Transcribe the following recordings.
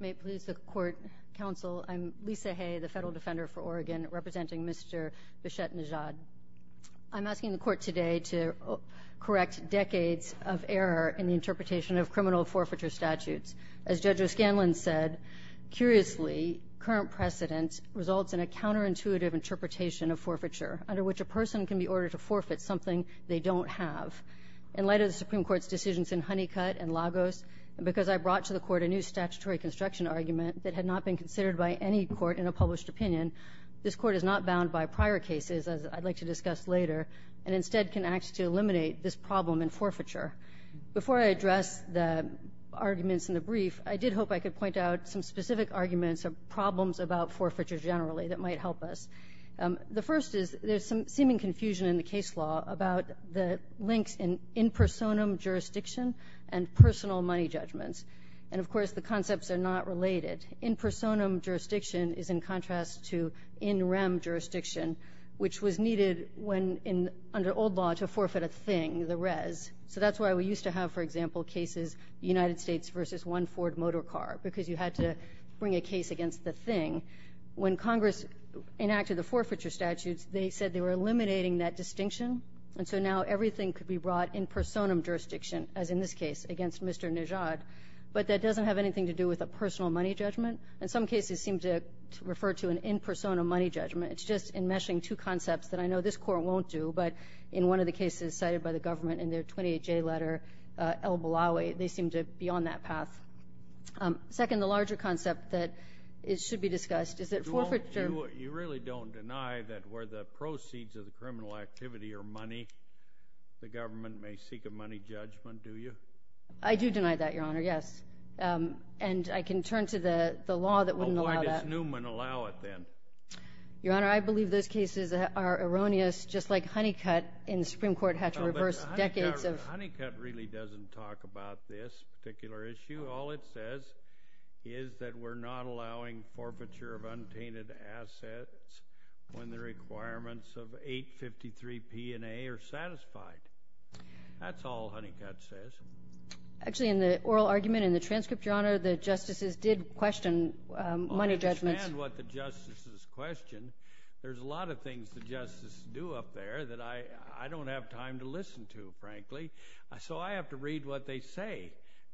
May it please the Court, Counsel, I'm Lisa Hay, the Federal Defender for Oregon, representing Mr. Bichette Nejad. I'm asking the Court today to correct decades of error in the interpretation of criminal forfeiture statutes. As Judge O'Scanlan said, curiously, current precedent results in a counterintuitive interpretation of forfeiture, under which a person can be ordered to forfeit something they don't have. In light of the Supreme Court's decisions in Honeycutt and I brought to the Court a new statutory construction argument that had not been considered by any court in a published opinion, this Court is not bound by prior cases, as I'd like to discuss later, and instead can act to eliminate this problem in forfeiture. Before I address the arguments in the brief, I did hope I could point out some specific arguments or problems about forfeiture generally that might help us. The first is there's some seeming confusion in the case law about the links in impersonum jurisdiction and personal money judgments. And, of course, the concepts are not related. Impersonum jurisdiction is in contrast to in rem jurisdiction, which was needed under old law to forfeit a thing, the res. So that's why we used to have, for example, cases United States versus one Ford motor car, because you had to bring a case against the thing. When Congress enacted the forfeiture statutes, they said they were eliminating that distinction, and so now everything could be brought in personum jurisdiction, as in this case, against Mr. Nejad. But that doesn't have anything to do with a personal money judgment. In some cases, it seems to refer to an impersonum money judgment. It's just enmeshing two concepts that I know this Court won't do, but in one of the cases cited by the government in their 28-J letter, El-Bulawi, they seem to be on that path. Second, the larger concept that should be discussed is that forfeiture— I do deny that, Your Honor, yes. And I can turn to the law that wouldn't allow that. Oh, why does Newman allow it then? Your Honor, I believe those cases are erroneous, just like Honeycutt in the Supreme Court had to reverse decades of— Honeycutt really doesn't talk about this particular issue. All it says is that we're not allowing forfeiture of untainted assets when the requirements of 853 P&A are satisfied. That's all Honeycutt says. Actually, in the oral argument, in the transcript, Your Honor, the justices did question money judgments— I understand what the justices questioned. There's a lot of things the justices do up there that I don't have time to listen to, frankly. So I have to read what they say.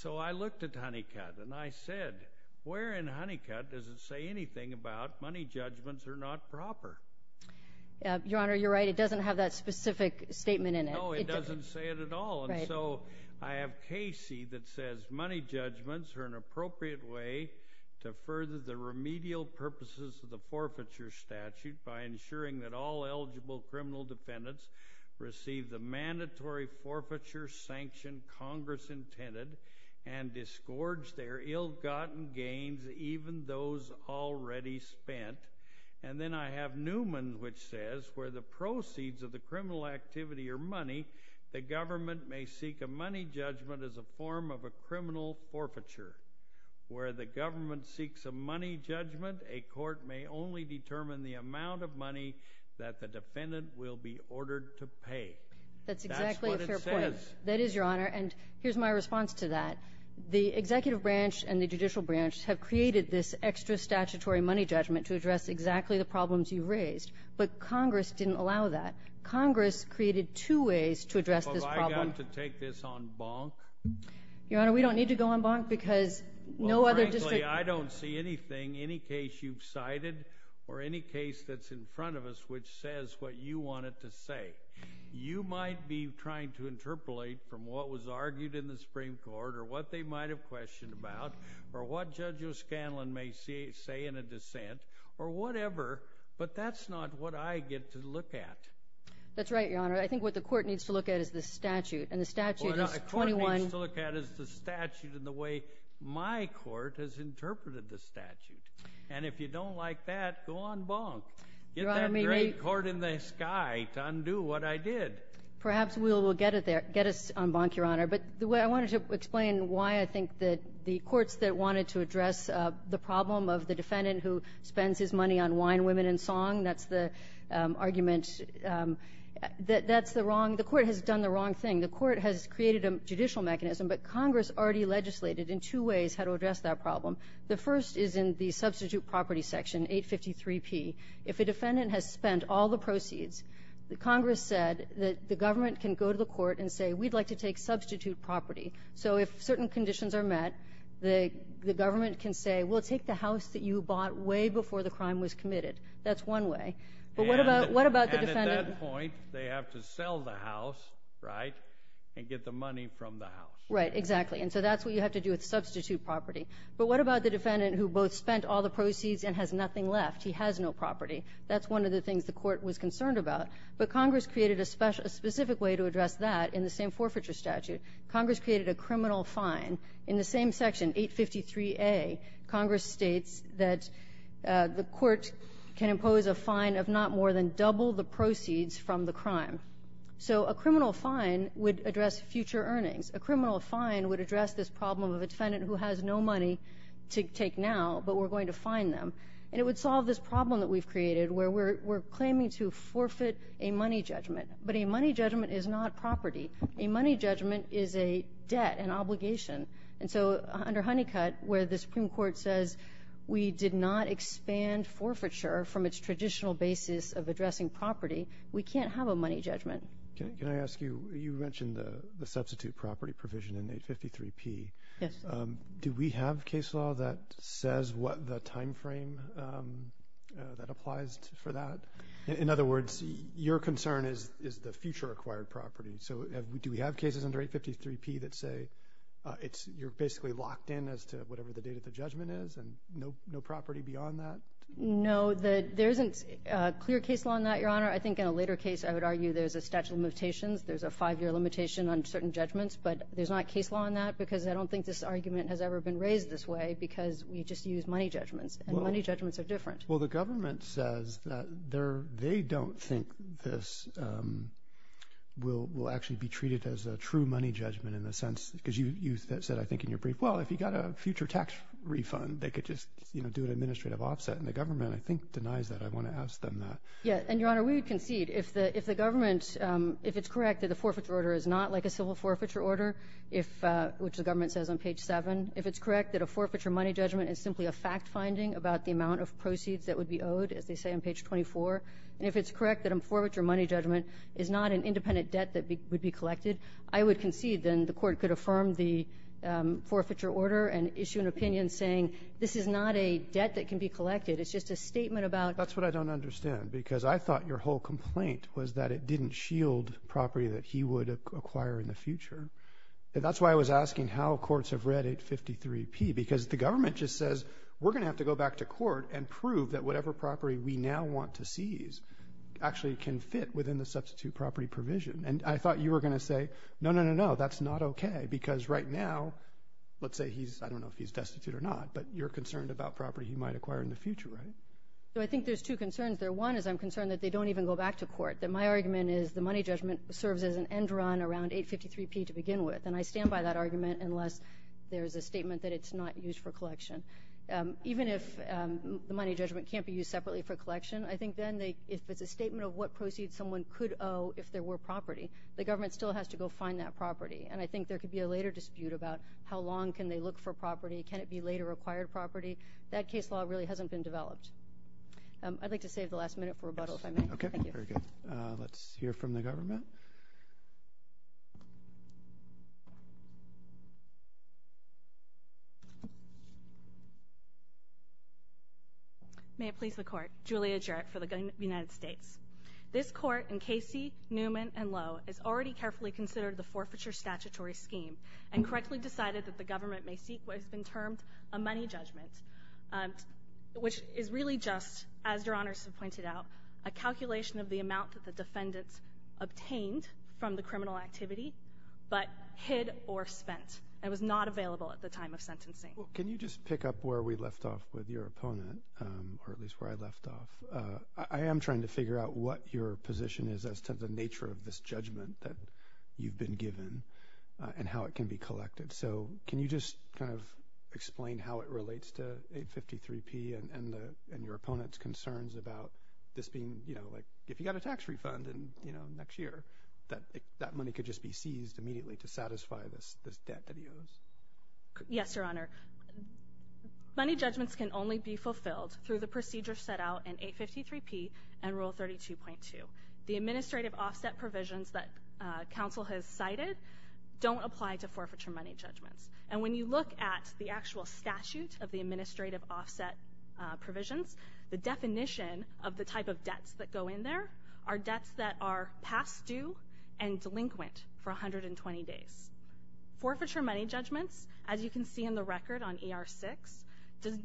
So I looked at Honeycutt, and I said, where in Honeycutt does it say anything about money judgments are not proper? Your Honor, you're right. It doesn't have that specific statement in it. No, it doesn't say it at all. And so I have Casey that says money judgments are an appropriate way to further the remedial purposes of the forfeiture statute by ensuring that all eligible criminal defendants receive the mandatory forfeiture sanction Congress intended and disgorge their ill-gotten gains, even those already spent. And then I have Newman, which says, where the proceeds of the criminal activity are money, the government may seek a money judgment as a form of a criminal forfeiture. Where the government seeks a money judgment, a court may only determine the amount of money that the defendant will be ordered to pay. That's exactly a fair point. That's what it says. That is, Your Honor. And here's my response to that. The executive branch and the judicial branch have created this extra statutory money judgment to address exactly the problems you have. Congress didn't allow that. Congress created two ways to address this problem. Well, have I got to take this on bonk? Your Honor, we don't need to go on bonk because no other district... Well, frankly, I don't see anything, any case you've cited or any case that's in front of us which says what you want it to say. You might be trying to interpolate from what was argued in the Supreme Court or what they might have questioned about or what Judge O'Scanlan may say in a dissent or whatever, but that's not what I get to look at. That's right, Your Honor. I think what the court needs to look at is the statute, and the statute is 21... Well, what the court needs to look at is the statute and the way my court has interpreted the statute. And if you don't like that, go on bonk. Get that great court in the sky to undo what I did. Perhaps we will get it there, get us on bonk, Your Honor. But I wanted to explain why I wanted to address the problem of the defendant who spends his money on wine, women, and song. That's the argument. That's the wrong... The court has done the wrong thing. The court has created a judicial mechanism, but Congress already legislated in two ways how to address that problem. The first is in the substitute property section, 853P. If a defendant has spent all the proceeds, the Congress said that the government can go to the court and say, we'd like to take substitute property. So if certain conditions are met, the government can say, well, take the house that you bought way before the crime was committed. That's one way. But what about the defendant... And at that point, they have to sell the house, right, and get the money from the house. Right, exactly. And so that's what you have to do with substitute property. But what about the defendant who both spent all the proceeds and has nothing left? He has no property. That's one of the things the court was concerned about. But Congress created a specific way to address that in the same forfeiture statute. Congress created a criminal fine. In the same section, 853A, Congress states that the court can impose a fine of not more than double the proceeds from the crime. So a criminal fine would address future earnings. A criminal fine would address this problem of a defendant who has no money to take now, but we're going to fine them. And it would solve this problem that we've created where we're claiming to forfeit a money judgment. But a money judgment is not property. A money judgment is a debt, an obligation. And so under Honeycutt, where the Supreme Court says we did not expand forfeiture from its traditional basis of addressing property, we can't have a money judgment. Can I ask you, you mentioned the substitute property provision in 853P. Yes. Do we have case law that says what the time frame that applies for that? In other words, your concern is the future acquired property. So do we have cases under 853P that say you're basically locked in as to whatever the date of the judgment is and no property beyond that? No. There isn't clear case law on that, Your Honor. I think in a later case I would argue there's a statute of limitations. There's a five-year limitation on certain judgments, but there's not case law on that because I don't think this argument has ever been raised this way because we just use money judgments, and money judgments are different. Well, the government says that they don't think this will actually be treated as a true money judgment in the sense because you said, I think, in your brief, well, if you got a future tax refund, they could just do an administrative offset. And the government, I think, denies that. I want to ask them that. Yes. And, Your Honor, we would concede if the government, if it's correct that the forfeiture order is not like a civil forfeiture order, which the government says on page 7, if it's correct that a forfeiture money judgment is simply a fact of the proceeds that would be owed, as they say on page 24, and if it's correct that a forfeiture money judgment is not an independent debt that would be collected, I would concede then the court could affirm the forfeiture order and issue an opinion saying this is not a debt that can be collected. It's just a statement about ---- That's what I don't understand because I thought your whole complaint was that it didn't shield property that he would acquire in the future. And that's why I was asking how courts have read 853P because the government just says we're going to have to go back to court and prove that whatever property we now want to seize actually can fit within the substitute property provision. And I thought you were going to say no, no, no, no, that's not okay because right now, let's say he's, I don't know if he's destitute or not, but you're concerned about property he might acquire in the future, right? So I think there's two concerns there. One is I'm concerned that they don't even go back to court, that my argument is the money judgment serves as an end run around 853P to begin with. And I stand by that argument unless there's a statement that it's not used for collection. Even if the money judgment can't be used separately for collection, I think then if it's a statement of what proceeds someone could owe if there were property, the government still has to go find that property. And I think there could be a later dispute about how long can they look for property, can it be later acquired property. That case law really hasn't been developed. I'd like to save the last minute for rebuttal if I may. Okay. Thank you. Very good. Let's hear from the government. May it please the Court. Julia Jarrett for the United States. This Court in Casey, Newman, and Lowe has already carefully considered the forfeiture statutory scheme and correctly decided that the government may seek what has been termed a money judgment, which is really just, as Your Honors have pointed out, a calculation of the amount that the defendants obtained from the criminal activity but hid or spent and was not available at the time of sentencing. Can you just pick up where we left off with your opponent, or at least where I left off? I am trying to figure out what your position is as to the nature of this judgment that you've been given and how it can be collected. So can you just kind of explain how it relates to 853P and your opponent's concerns about this being, you know, like, if you got a tax refund next year, that money could just be seized immediately to satisfy this debt that he owes? Yes, Your Honor. Money judgments can only be fulfilled through the procedure set out in 853P and Rule 32.2. The administrative offset provisions that counsel has cited don't apply to forfeiture money judgments. And when you look at the actual statute of the administrative offset provisions, the definition of the type of debts that go in there are debts that are past due and delinquent for 120 days. Forfeiture money judgments, as you can see in the record on ER 6,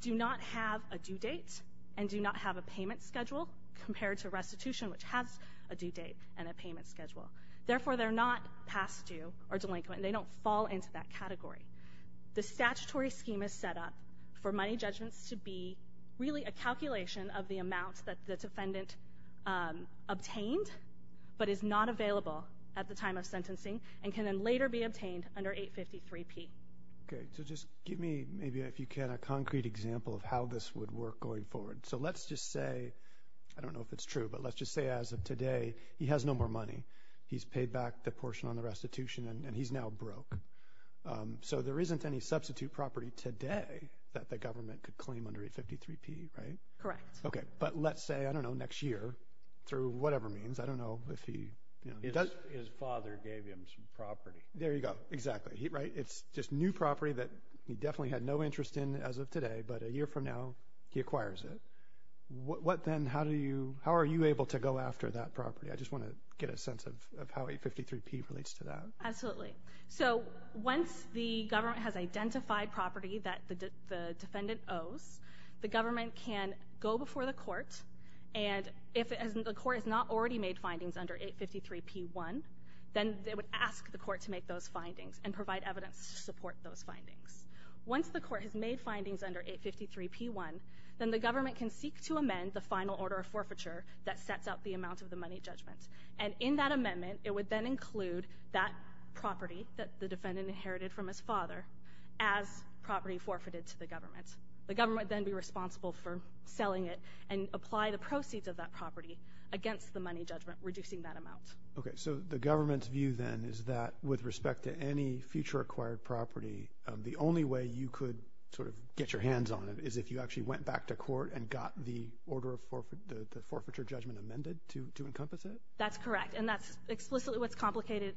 do not have a due date and do not have a payment schedule compared to restitution, which has a due date and a payment schedule. Therefore, they're not past due or delinquent, and they don't fall into that category. The statutory scheme is set up for money judgments to be really a calculation of the amount that the defendant obtained but is not available at the time of sentencing and can then later be obtained under 853P. Okay. So just give me, maybe if you can, a concrete example of how this would work going forward. So let's just say—I don't know if it's true, but let's just say as of today, he has no more money. He's paid back the portion on the restitution, and he's now broke. So there isn't any substitute property today that the government could claim under 853P, right? Correct. Okay. But let's say, I don't know, next year, through whatever means, I don't know if he— His father gave him some property. There you go. Exactly. Right? It's just new property that he definitely had no interest in as of today, but a year from now, he acquires it. What then—how are you able to go after that property? I just want to get a sense of how 853P relates to that. Absolutely. So once the government has identified property that the defendant owes, the government can go before the court, and if the court has not already made findings under 853P1, then they would ask the court to make those findings and provide evidence to support those findings. Once the court has made findings under 853P1, then the government can seek to amend the final order of forfeiture that sets out the amount of the money judgment. And in that amendment, it would then include that property that the defendant inherited from his father as property forfeited to the government. The government would then be responsible for selling it and apply the proceeds of that property against the money judgment, reducing that amount. Okay. So the government's view then is that with respect to any future acquired property, the only way you could sort of get your hands on it is if you actually went back to court and got the forfeiture judgment amended to encompass it? That's correct. And that's explicitly what's contemplated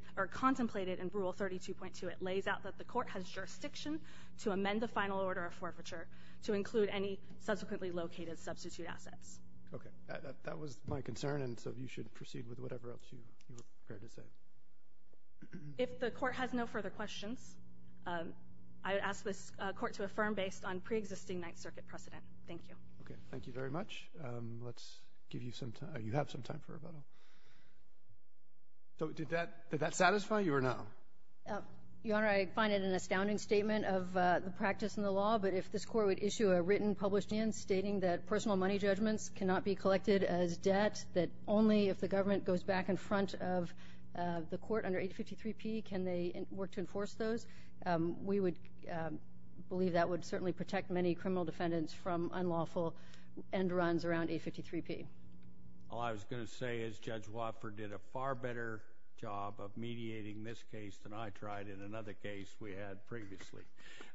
in Rule 32.2. It lays out that the court has jurisdiction to amend the final order of forfeiture to include any subsequently located substitute assets. Okay. That was my concern, and so you should proceed with whatever else you were prepared to say. If the court has no further questions, I would ask this court to affirm based on preexisting Ninth Circuit precedent. Thank you. Okay. Thank you very much. Let's give you some time. You have some time for rebuttal. Did that satisfy you or no? Your Honor, I find it an astounding statement of the practice and the law, but if this court would issue a written published in stating that personal money judgments cannot be collected as debt, that only if the government goes back in front of the court under 853P can they work to enforce those, we would believe that would certainly protect many criminal defendants from unlawful end runs around 853P. All I was going to say is Judge Wofford did a far better job of mediating this case than I tried in another case we had previously.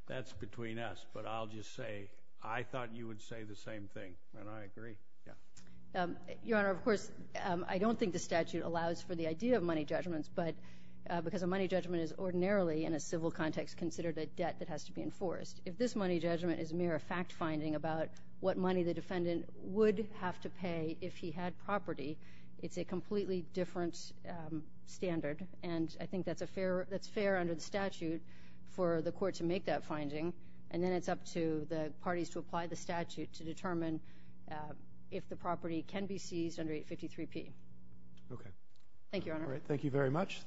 That's between us, but I'll just say I thought you would say the same thing, and I agree. Yeah. Your Honor, of course, I don't think the statute allows for the idea of money judgments, but because a money judgment is ordinarily in a civil context considered a debt that has to be enforced. If this money judgment is mere fact finding about what money the defendant would have to pay if he had property, it's a completely different standard, and I think that's fair under the statute for the court to make that finding, and then it's up to the parties to apply the statute to determine if the property can be seized under 853P. Okay. Thank you, Your Honor. All right. Thank you very much.